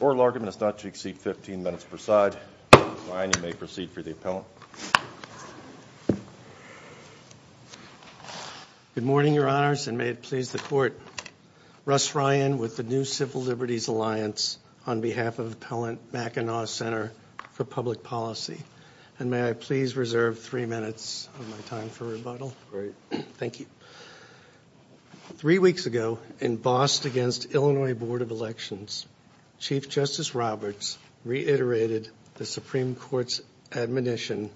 Oral Argument is not to exceed 15 minutes per side, Ryan you may proceed for the appellant. Good morning your honors and may it please the court. Russ Ryan with the New Civil Liberties Alliance on behalf of Appellant Mackinac Ctr for Public Policy. And may I please reserve three minutes of my time for rebuttal. Thank you. Three weeks ago in Boston against Illinois Board of Elections, Chief Justice Roberts reiterated the Supreme Court's admonition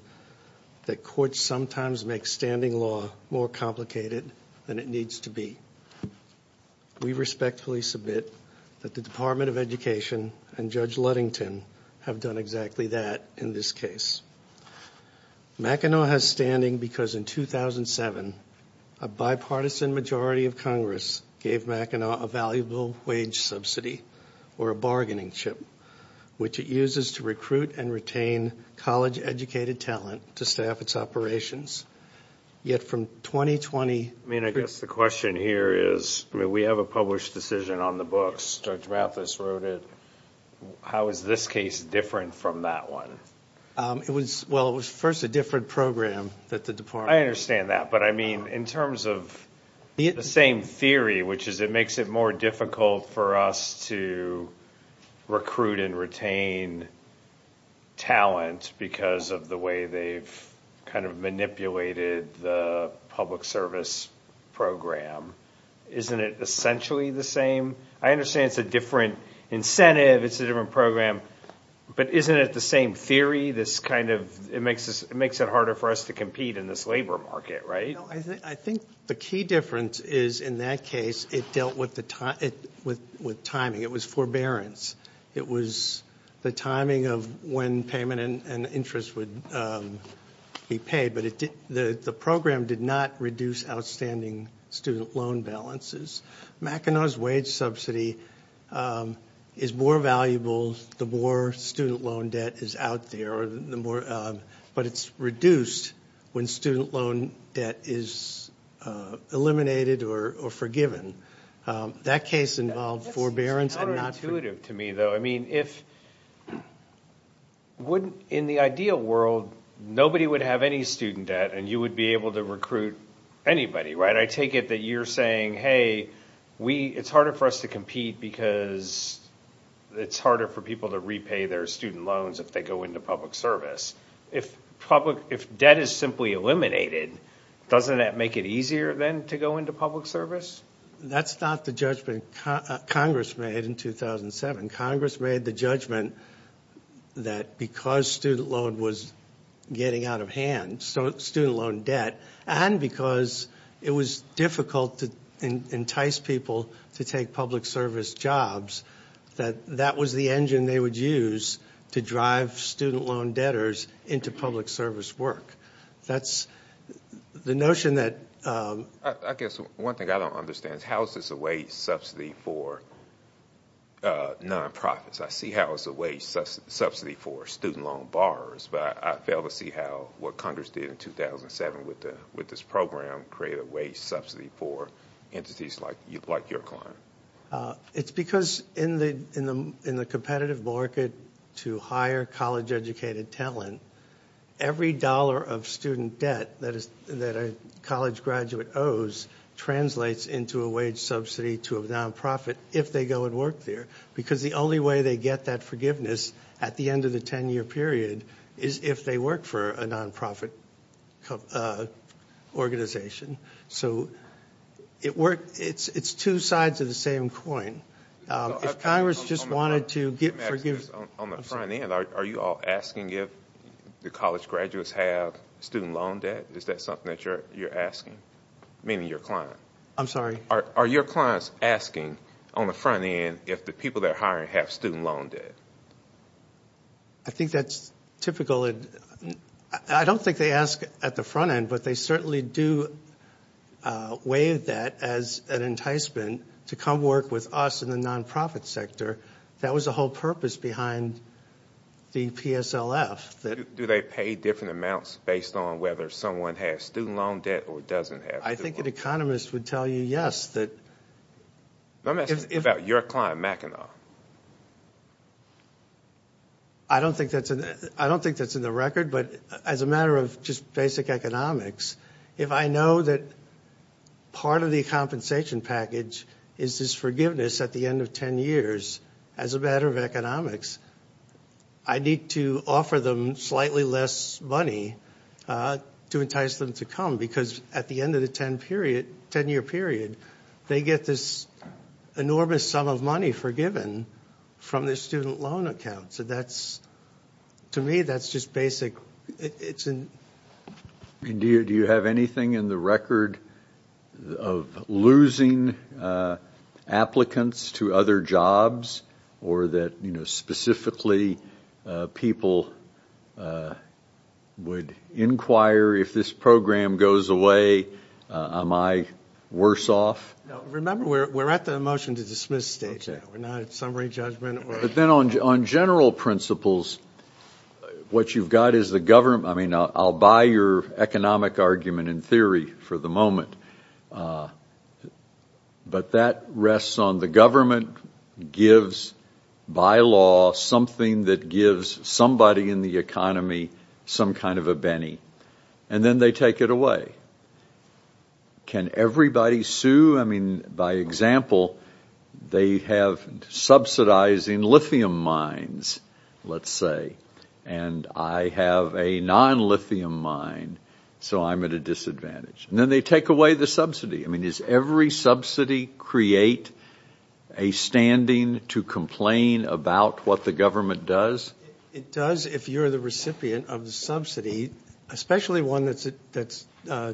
that courts sometimes make standing law more complicated than it needs to be. We respectfully submit that the Department of Education and Judge Ludington have done exactly that in this case. Mackinac has standing because in 2007 a bipartisan majority of Congress gave Mackinac a valuable wage subsidy or a bargaining chip which it uses to recruit and retain college educated talent to staff its operations. Yet from 2020. I mean I guess the question here is we have a published decision on the books. Judge Mathis wrote it. How is this case different from that one? It was well it was first a different program that the department. I understand that. But I mean in terms of the same theory which is it makes it more difficult for us to recruit and retain talent because of the way they've kind of manipulated the public service program. Isn't it essentially the same? I understand it's a different incentive. It's a different program. But isn't it the same theory? This kind of it makes it makes it harder for us to compete in this labor market. Right. I think the key difference is in that case it dealt with the time it with with timing. It was forbearance. It was the timing of when payment and interest would be paid. But the program did not reduce outstanding student loan balances. Mackinac's wage subsidy is more valuable the more student loan debt is out there. But it's reduced when student loan debt is eliminated or forgiven. That case involved forbearance. It's not intuitive to me though. I mean if wouldn't in the ideal world nobody would have any student debt and you would be able to recruit anybody. Right. I take it that you're saying hey we it's harder for us to compete because it's harder for people to repay their student loans if they go into public service. If public if debt is simply eliminated doesn't that make it easier then to go into public service? That's not the judgment Congress made in 2007. Congress made the judgment that because student loan was getting out of hand. So student loan debt and because it was difficult to entice people to take public service jobs that that was the engine they would use to drive student loan debtors into public service work. That's the notion that. I guess one thing I don't understand is how is this a wage subsidy for nonprofits. I see how it's a wage subsidy for student loan borrowers. But I fail to see how what Congress did in 2007 with this program created a wage subsidy for entities like your client. It's because in the competitive market to hire college educated talent, every dollar of student debt that a college graduate owes translates into a wage subsidy to a nonprofit if they go and work there. Because the only way they get that forgiveness at the end of the 10 year period is if they work for a nonprofit organization. So it's two sides of the same coin. If Congress just wanted to get forgiveness. On the front end are you all asking if the college graduates have student loan debt? Is that something that you're asking? Meaning your client. I'm sorry. Are your clients asking on the front end if the people they're hiring have student loan debt? I think that's typical. I don't think they ask at the front end, but they certainly do weigh that as an enticement to come work with us in the nonprofit sector. That was the whole purpose behind the PSLF. Do they pay different amounts based on whether someone has student loan debt or doesn't have student loan debt? I think an economist would tell you yes. Let me ask you about your client, Mackinac. I don't think that's in the record, but as a matter of just basic economics, if I know that part of the compensation package is this forgiveness at the end of 10 years, as a matter of economics, I need to offer them slightly less money to entice them to come because at the end of the 10-year period, they get this enormous sum of money forgiven from their student loan account. To me, that's just basic. Do you have anything in the record of losing applicants to other jobs, or that specifically people would inquire, if this program goes away, am I worse off? Remember, we're at the motion to dismiss stage now. We're not at summary judgment. But then on general principles, what you've got is the government. I mean, I'll buy your economic argument in theory for the moment, but that rests on the government gives by law something that gives somebody in the economy some kind of a penny, and then they take it away. Can everybody sue? I mean, by example, they have subsidizing lithium mines, let's say, and I have a non-lithium mine, so I'm at a disadvantage. And then they take away the subsidy. I mean, does every subsidy create a standing to complain about what the government does? It does if you're the recipient of the subsidy, especially one that's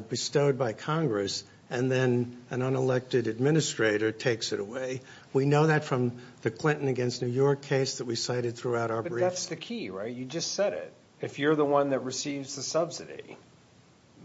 bestowed by Congress, and then an unelected administrator takes it away. We know that from the Clinton against New York case that we cited throughout our brief. But that's the key, right? You just said it. If you're the one that receives the subsidy,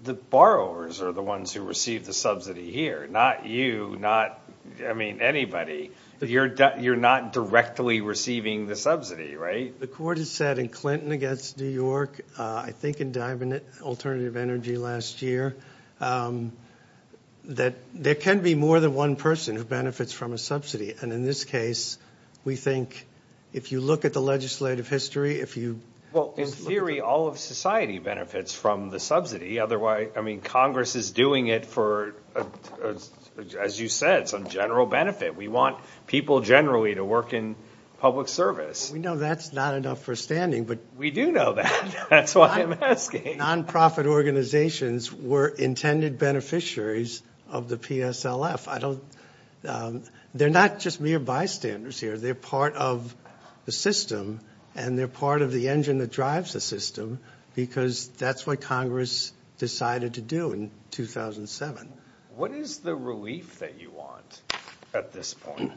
the borrowers are the ones who receive the subsidy here, not you, not anybody. You're not directly receiving the subsidy, right? The court has said in Clinton against New York, I think in Diamond Alternative Energy last year, that there can be more than one person who benefits from a subsidy. And in this case, we think if you look at the legislative history, if you look at the- Well, in theory, all of society benefits from the subsidy. I mean, Congress is doing it for, as you said, some general benefit. We want people generally to work in public service. We know that's not enough for standing, but- We do know that. That's why I'm asking. Nonprofit organizations were intended beneficiaries of the PSLF. They're not just mere bystanders here. They're part of the system, and they're part of the engine that drives the system, because that's what Congress decided to do in 2007. What is the relief that you want at this point?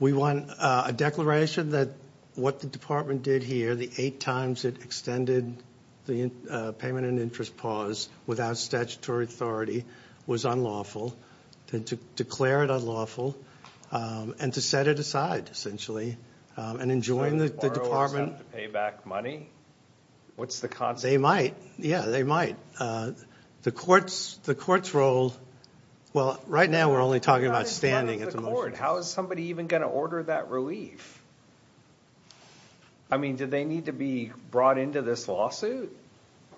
We want a declaration that what the department did here, the eight times it extended the payment and interest pause without statutory authority, was unlawful, to declare it unlawful, and to set it aside, essentially, and enjoin the department- So borrowers have to pay back money? What's the concept? They might. Yeah, they might. The court's role-well, right now we're only talking about standing at the moment. Oh, my Lord, how is somebody even going to order that relief? I mean, do they need to be brought into this lawsuit,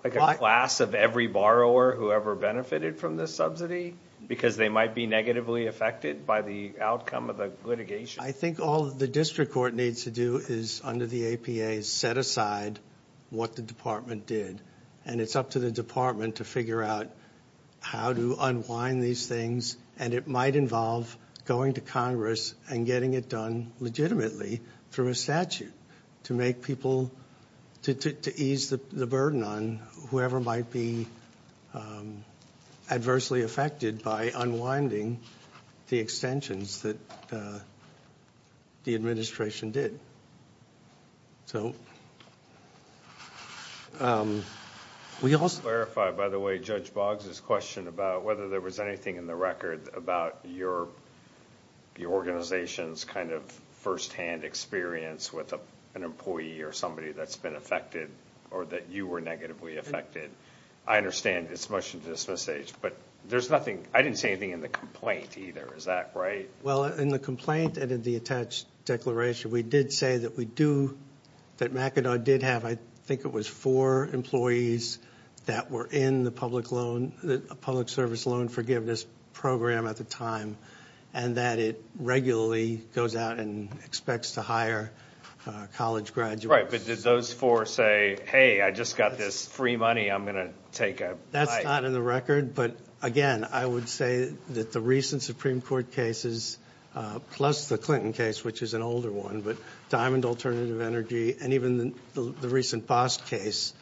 like a class of every borrower who ever benefited from this subsidy, because they might be negatively affected by the outcome of the litigation? I think all the district court needs to do is, under the APA, set aside what the department did, and it's up to the department to figure out how to unwind these things, and it might involve going to Congress and getting it done legitimately through a statute to make people- to ease the burden on whoever might be adversely affected by unwinding the extensions that the administration did. So, we also- Let me clarify, by the way, Judge Boggs' question about whether there was anything in the record about your organization's kind of firsthand experience with an employee or somebody that's been affected, or that you were negatively affected. I understand this motion to dismiss H, but there's nothing- I didn't say anything in the complaint, either. Is that right? Well, in the complaint and in the attached declaration, we did say that we do- that McAdoo did have, I think it was, four employees that were in the public loan- public service loan forgiveness program at the time, and that it regularly goes out and expects to hire college graduates. Right, but did those four say, hey, I just got this free money, I'm going to take a bite? That's not in the record, but, again, I would say that the recent Supreme Court cases, plus the Clinton case, which is an older one, but Diamond Alternative Energy, and even the recent Bost case,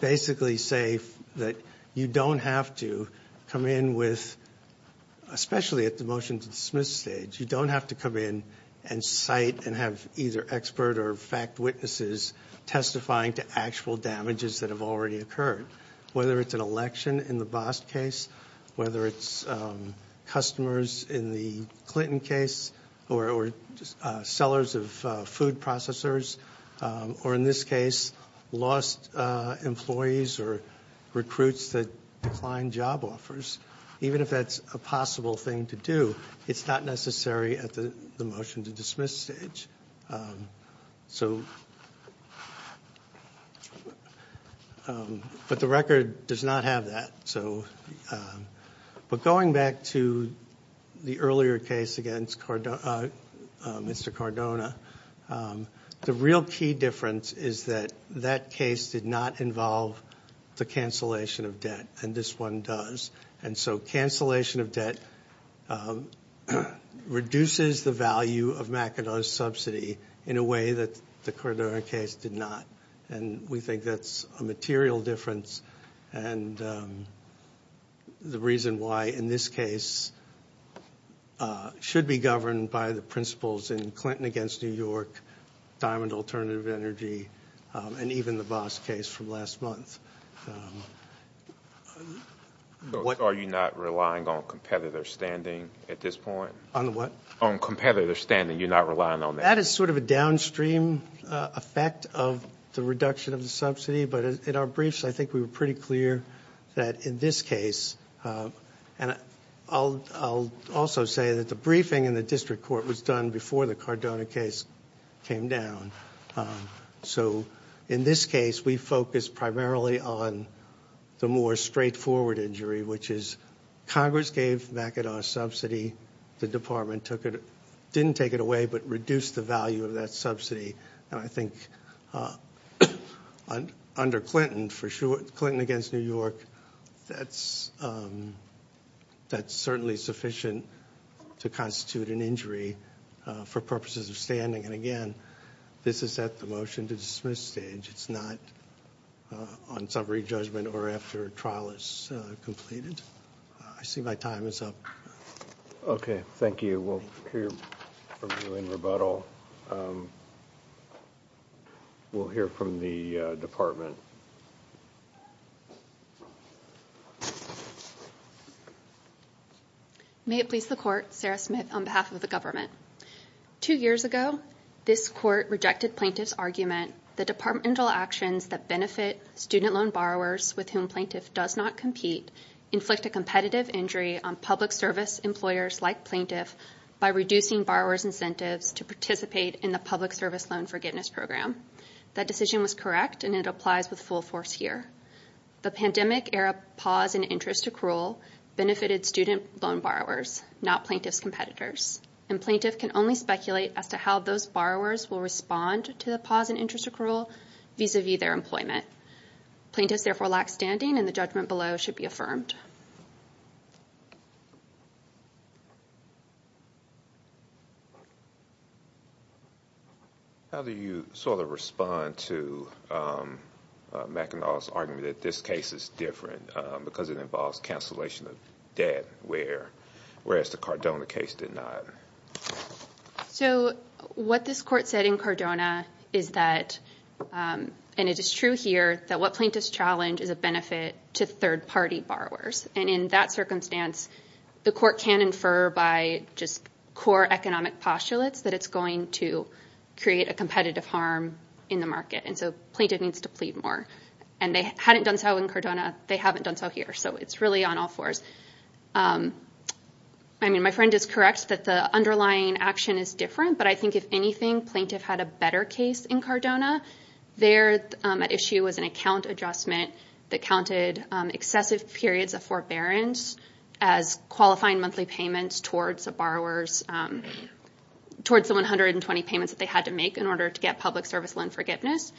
basically say that you don't have to come in with- especially at the motion to dismiss stage, you don't have to come in and cite and have either expert or fact witnesses testifying to actual damages that have already occurred, whether it's an election in the Bost case, whether it's customers in the Clinton case, or sellers of food processors, or in this case, lost employees or recruits that declined job offers. Even if that's a possible thing to do, it's not necessary at the motion to dismiss stage. So, but the record does not have that. But going back to the earlier case against Mr. Cardona, the real key difference is that that case did not involve the cancellation of debt, and this one does. And so cancellation of debt reduces the value of McAdoo's subsidy in a way that the Cardona case did not. And we think that's a material difference, and the reason why in this case should be governed by the principles in Clinton against New York, Diamond Alternative Energy, and even the Bost case from last month. Are you not relying on competitor standing at this point? On the what? On competitor standing, you're not relying on that. That is sort of a downstream effect of the reduction of the subsidy, but in our briefs I think we were pretty clear that in this case, and I'll also say that the briefing in the district court was done before the Cardona case came down. So in this case, we focused primarily on the more straightforward injury, which is Congress gave McAdoo a subsidy. The department didn't take it away but reduced the value of that subsidy. And I think under Clinton, for sure, Clinton against New York, that's certainly sufficient to constitute an injury for purposes of standing. And, again, this is at the motion to dismiss stage. It's not on summary judgment or after a trial is completed. I see my time is up. Okay, thank you. We'll hear from you in rebuttal. We'll hear from the department. May it please the Court, Sarah Smith on behalf of the government. Two years ago, this court rejected plaintiff's argument, the departmental actions that benefit student loan borrowers with whom plaintiff does not compete, inflict a competitive injury on public service employers like plaintiff by reducing borrower's incentives to participate in the public service loan forgiveness program. That decision was correct, and it applies with full force here. The pandemic era pause in interest accrual benefited student loan borrowers, not plaintiff's competitors. And plaintiff can only speculate as to how those borrowers will respond to the pause in interest accrual vis-à-vis their employment. Plaintiffs, therefore, lack standing, and the judgment below should be affirmed. How do you sort of respond to McAnull's argument that this case is different because it involves cancellation of debt, whereas the Cardona case did not? So what this court said in Cardona is that, and it is true here, that what plaintiffs challenge is a benefit to third-party borrowers. And in that circumstance, the court can infer by just core economic postulates that it's going to create a competitive harm in the market. And so plaintiff needs to plead more. And they hadn't done so in Cardona. They haven't done so here. So it's really on all fours. I mean, my friend is correct that the underlying action is different. But I think if anything, plaintiff had a better case in Cardona. Their issue was an account adjustment that counted excessive periods of forbearance as qualifying monthly payments towards the borrowers, towards the 120 payments that they had to make in order to get public service loan forgiveness.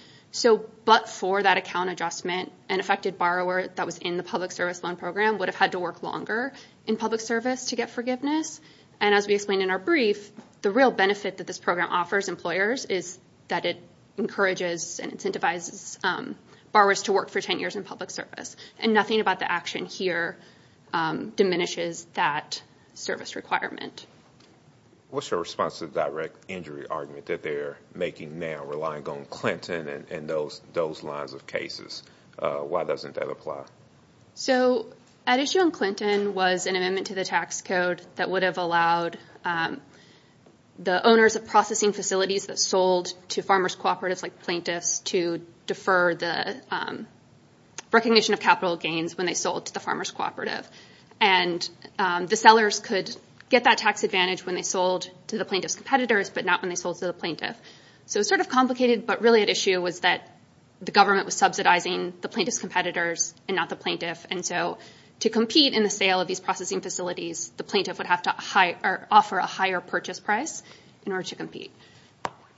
But for that account adjustment, an affected borrower that was in the public service loan program would have had to work longer in public service to get forgiveness. And as we explained in our brief, the real benefit that this program offers employers is that it encourages and incentivizes borrowers to work for 10 years in public service. And nothing about the action here diminishes that service requirement. What's your response to the direct injury argument that they're making now, relying on Clinton and those lines of cases? Why doesn't that apply? So an issue on Clinton was an amendment to the tax code that would have allowed the owners of processing facilities that sold to farmers cooperatives like plaintiffs to defer the recognition of capital gains when they sold to the farmers cooperative. And the sellers could get that tax advantage when they sold to the plaintiff's competitors, but not when they sold to the plaintiff. So it's sort of complicated, but really at issue was that the government was subsidizing the plaintiff's competitors and not the plaintiff. And so to compete in the sale of these processing facilities, the plaintiff would have to offer a higher purchase price in order to compete.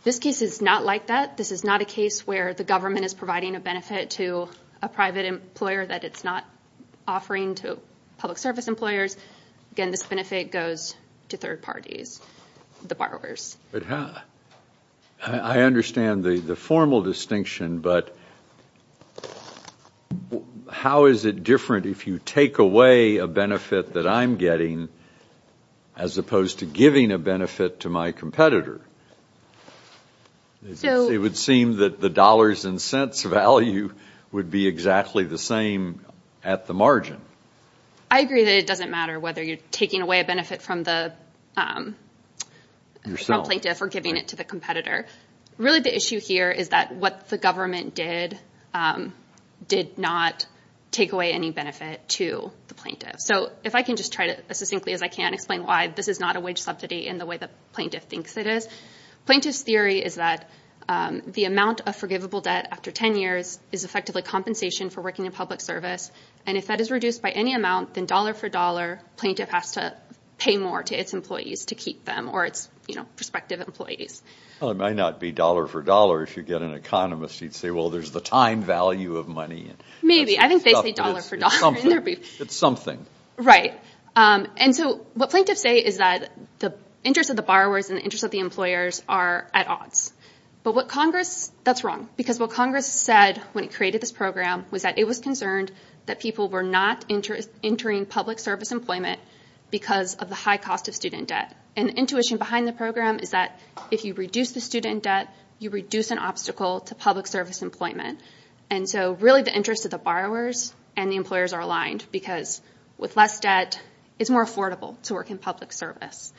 This case is not like that. This is not a case where the government is providing a benefit to a private employer that it's not offering to public service employers. Again, this benefit goes to third parties, the borrowers. I understand the formal distinction, but how is it different if you take away a benefit that I'm getting as opposed to giving a benefit to my competitor? It would seem that the dollars and cents value would be exactly the same at the margin. I agree that it doesn't matter whether you're taking away a benefit from the plaintiff or giving it to the competitor. Really the issue here is that what the government did did not take away any benefit to the plaintiff. So if I can just try to, as succinctly as I can, explain why this is not a wage subsidy in the way the plaintiff thinks it is. Plaintiff's theory is that the amount of forgivable debt after 10 years is effectively compensation for working in public service. And if that is reduced by any amount, then dollar for dollar, plaintiff has to pay more to its employees to keep them or its prospective employees. Well, it might not be dollar for dollar. If you get an economist, he'd say, well, there's the time value of money. Maybe. I think they say dollar for dollar. It's something. Right. And so what plaintiffs say is that the interest of the borrowers and the interest of the employers are at odds. But what Congress, that's wrong. Because what Congress said when it created this program was that it was concerned that people were not entering public service employment because of the high cost of student debt. And the intuition behind the program is that if you reduce the student debt, you reduce an obstacle to public service employment. And so really the interest of the borrowers and the employers are aligned because with less debt, it's more affordable to work in public service.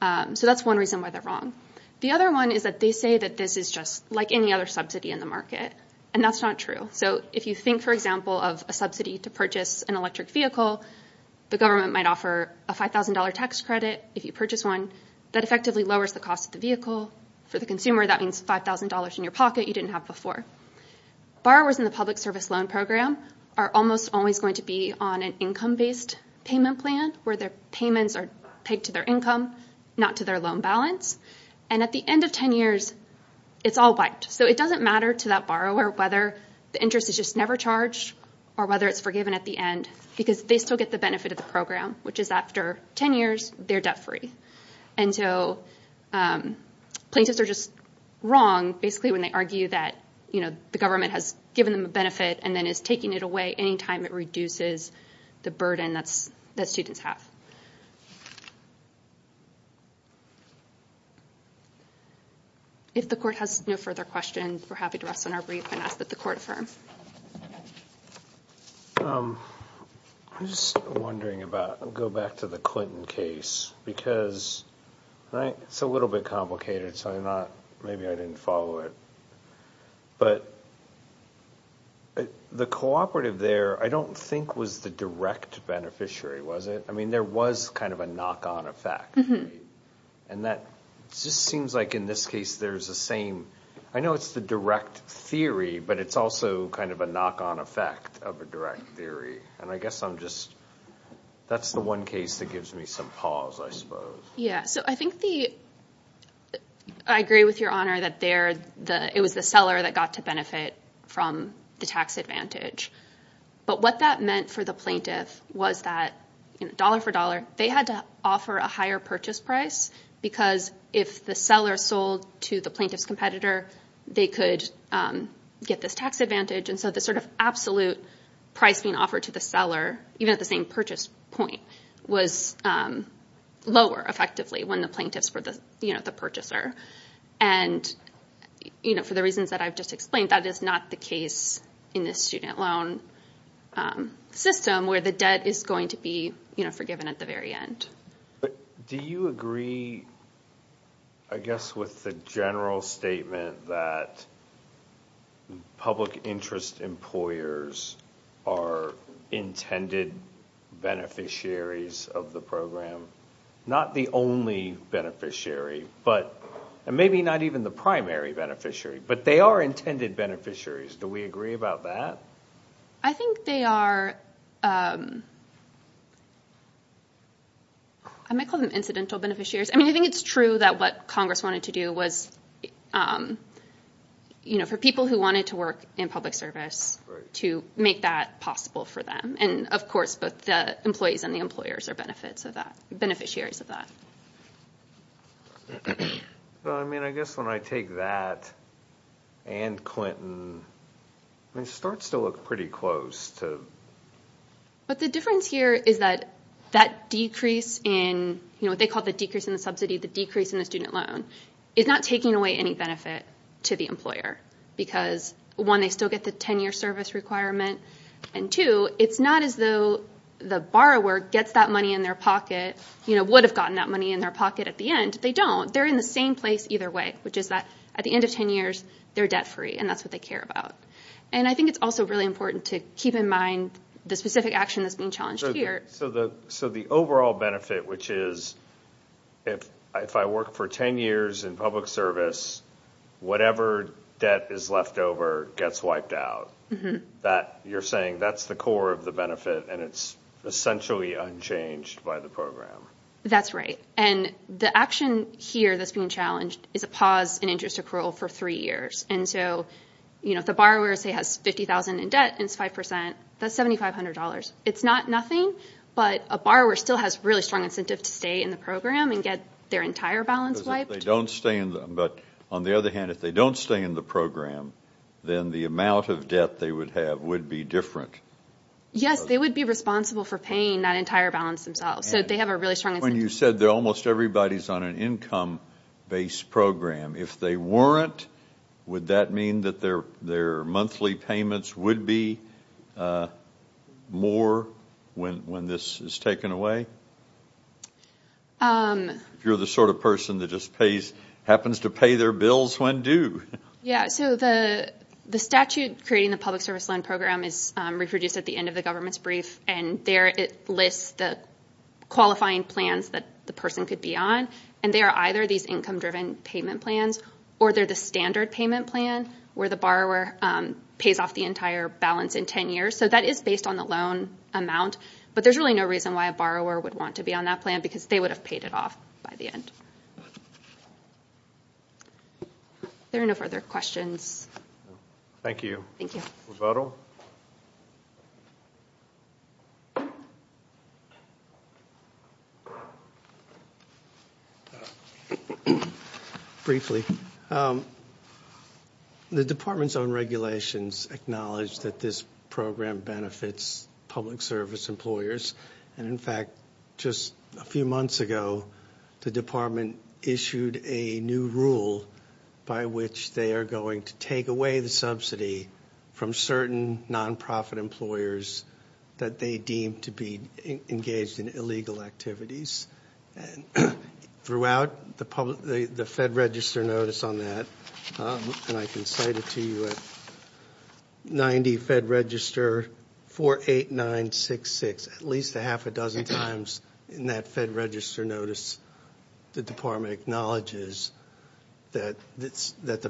So that's one reason why they're wrong. The other one is that they say that this is just like any other subsidy in the market. And that's not true. So if you think, for example, of a subsidy to purchase an electric vehicle, the government might offer a $5,000 tax credit if you purchase one. That effectively lowers the cost of the vehicle. For the consumer, that means $5,000 in your pocket you didn't have before. Borrowers in the public service loan program are almost always going to be on an income-based payment plan where their payments are paid to their income, not to their loan balance. And at the end of 10 years, it's all wiped. So it doesn't matter to that borrower whether the interest is just never charged or whether it's forgiven at the end because they still get the benefit of the program, which is after 10 years, they're debt-free. And so plaintiffs are just wrong basically when they argue that the government has given them a benefit and then is taking it away any time it reduces the burden that students have. If the court has no further questions, we're happy to rest on our brief and ask that the court affirm. I'm just wondering about, I'll go back to the Clinton case because it's a little bit complicated, so maybe I didn't follow it, but the cooperative there, I don't think was the direct beneficiary, was it? I mean, there was kind of a knock-on effect. And that just seems like in this case, there's the same. I know it's the direct theory, but it's also kind of a knock-on effect of a direct theory. And I guess I'm just, that's the one case that gives me some pause, I suppose. Yeah, so I think the, I agree with Your Honor that it was the seller that got to benefit from the tax advantage. But what that meant for the plaintiff was that dollar for dollar, they had to offer a higher purchase price because if the seller sold to the plaintiff's competitor, they could get this tax advantage. And so the sort of absolute price being offered to the seller, even at the same purchase point, was lower effectively when the plaintiffs were the purchaser. And for the reasons that I've just explained, that is not the case in this student loan system where the debt is going to be forgiven at the very end. But do you agree, I guess, with the general statement that public interest employers are intended beneficiaries of the program? Not the only beneficiary, and maybe not even the primary beneficiary, but they are intended beneficiaries. Do we agree about that? I think they are, I might call them incidental beneficiaries. I mean, I think it's true that what Congress wanted to do was, you know, for people who wanted to work in public service to make that possible for them. And, of course, both the employees and the employers are benefits of that, beneficiaries of that. Well, I mean, I guess when I take that and Clinton, it starts to look pretty close. But the difference here is that that decrease in, you know, what they call the decrease in the subsidy, the decrease in the student loan, is not taking away any benefit to the employer. Because, one, they still get the 10-year service requirement. And, two, it's not as though the borrower gets that money in their pocket, you know, would have gotten that money in their pocket at the end. They don't. They're in the same place either way, which is that at the end of 10 years, they're debt-free, and that's what they care about. And I think it's also really important to keep in mind the specific action that's being challenged here. So the overall benefit, which is if I work for 10 years in public service, whatever debt is left over gets wiped out. You're saying that's the core of the benefit, and it's essentially unchanged by the program. That's right. And the action here that's being challenged is a pause in interest accrual for three years. And so, you know, if the borrower, say, has $50,000 in debt and it's 5%, that's $7,500. It's not nothing, but a borrower still has really strong incentive to stay in the program and get their entire balance wiped. But on the other hand, if they don't stay in the program, then the amount of debt they would have would be different. Yes, they would be responsible for paying that entire balance themselves. So they have a really strong incentive. When you said that almost everybody's on an income-based program, if they weren't, would that mean that their monthly payments would be more when this is taken away? If you're the sort of person that just happens to pay their bills when due. Yes. So the statute creating the public service loan program is reproduced at the end of the government's brief, and there it lists the qualifying plans that the person could be on. And they are either these income-driven payment plans, or they're the standard payment plan, where the borrower pays off the entire balance in 10 years. So that is based on the loan amount. But there's really no reason why a borrower would want to be on that plan, because they would have paid it off by the end. There are no further questions. Thank you. Thank you. Briefly. The department's own regulations acknowledge that this program benefits public service employers. And, in fact, just a few months ago, the department issued a new rule by which they are going to take away the subsidy from certain nonprofit employers that they deem to be engaged in illegal activities. Throughout the Fed Register notice on that, and I can cite it to you at 90 Fed Register 48966, at least a half a dozen times in that Fed Register notice, the department acknowledges that the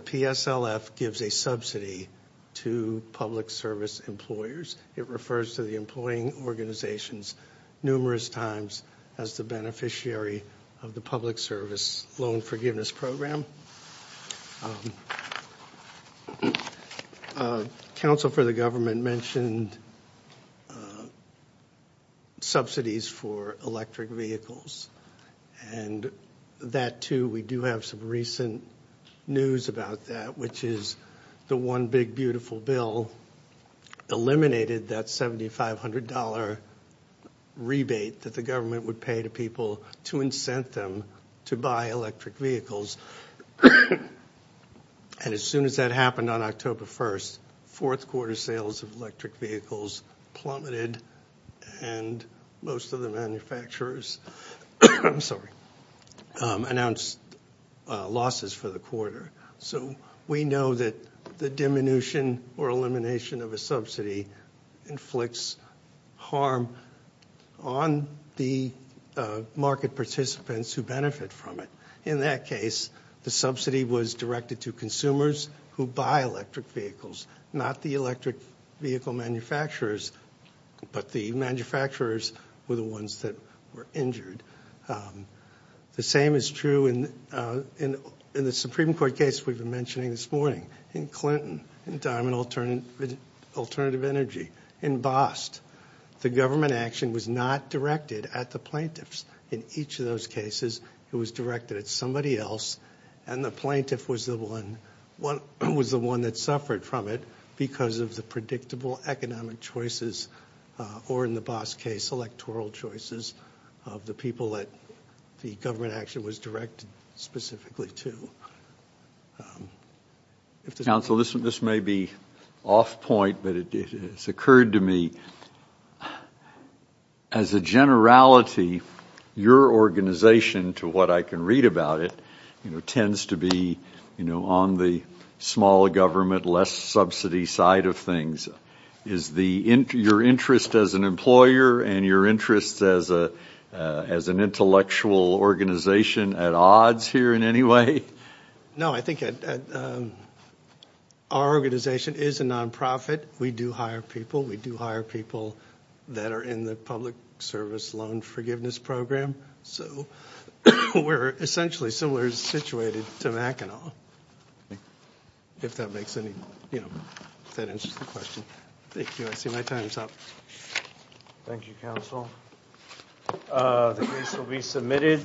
PSLF gives a subsidy to public service employers. It refers to the employing organizations numerous times as the beneficiary of the public service loan forgiveness program. Council for the Government mentioned subsidies for electric vehicles. And that, too, we do have some recent news about that, which is the one big beautiful bill eliminated that $7,500 rebate that the government would pay to people to incent them to buy electric vehicles. And as soon as that happened on October 1st, fourth quarter sales of electric vehicles plummeted, and most of the manufacturers announced losses for the quarter. So we know that the diminution or elimination of a subsidy inflicts harm on the market participants who benefit from it. In that case, the subsidy was directed to consumers who buy electric vehicles, not the electric vehicle manufacturers, but the manufacturers were the ones that were injured. The same is true in the Supreme Court case we've been mentioning this morning, in Clinton, in Diamond Alternative Energy, in Bost. The government action was not directed at the plaintiffs. In each of those cases, it was directed at somebody else, and the plaintiff was the one that suffered from it because of the predictable economic choices, or in the Bost case, electoral choices of the people that the government action was directed specifically to. Council, this may be off point, but it has occurred to me, as a generality, your organization, to what I can read about it, tends to be on the smaller government, less subsidy side of things. Is your interest as an employer and your interest as an intellectual organization at odds here in any way? No, I think our organization is a nonprofit. We do hire people. We do hire people that are in the public service loan forgiveness program. We're essentially similar situated to Mackinac, if that answers the question. Thank you. I see my time is up. Thank you, Council. The case will be submitted.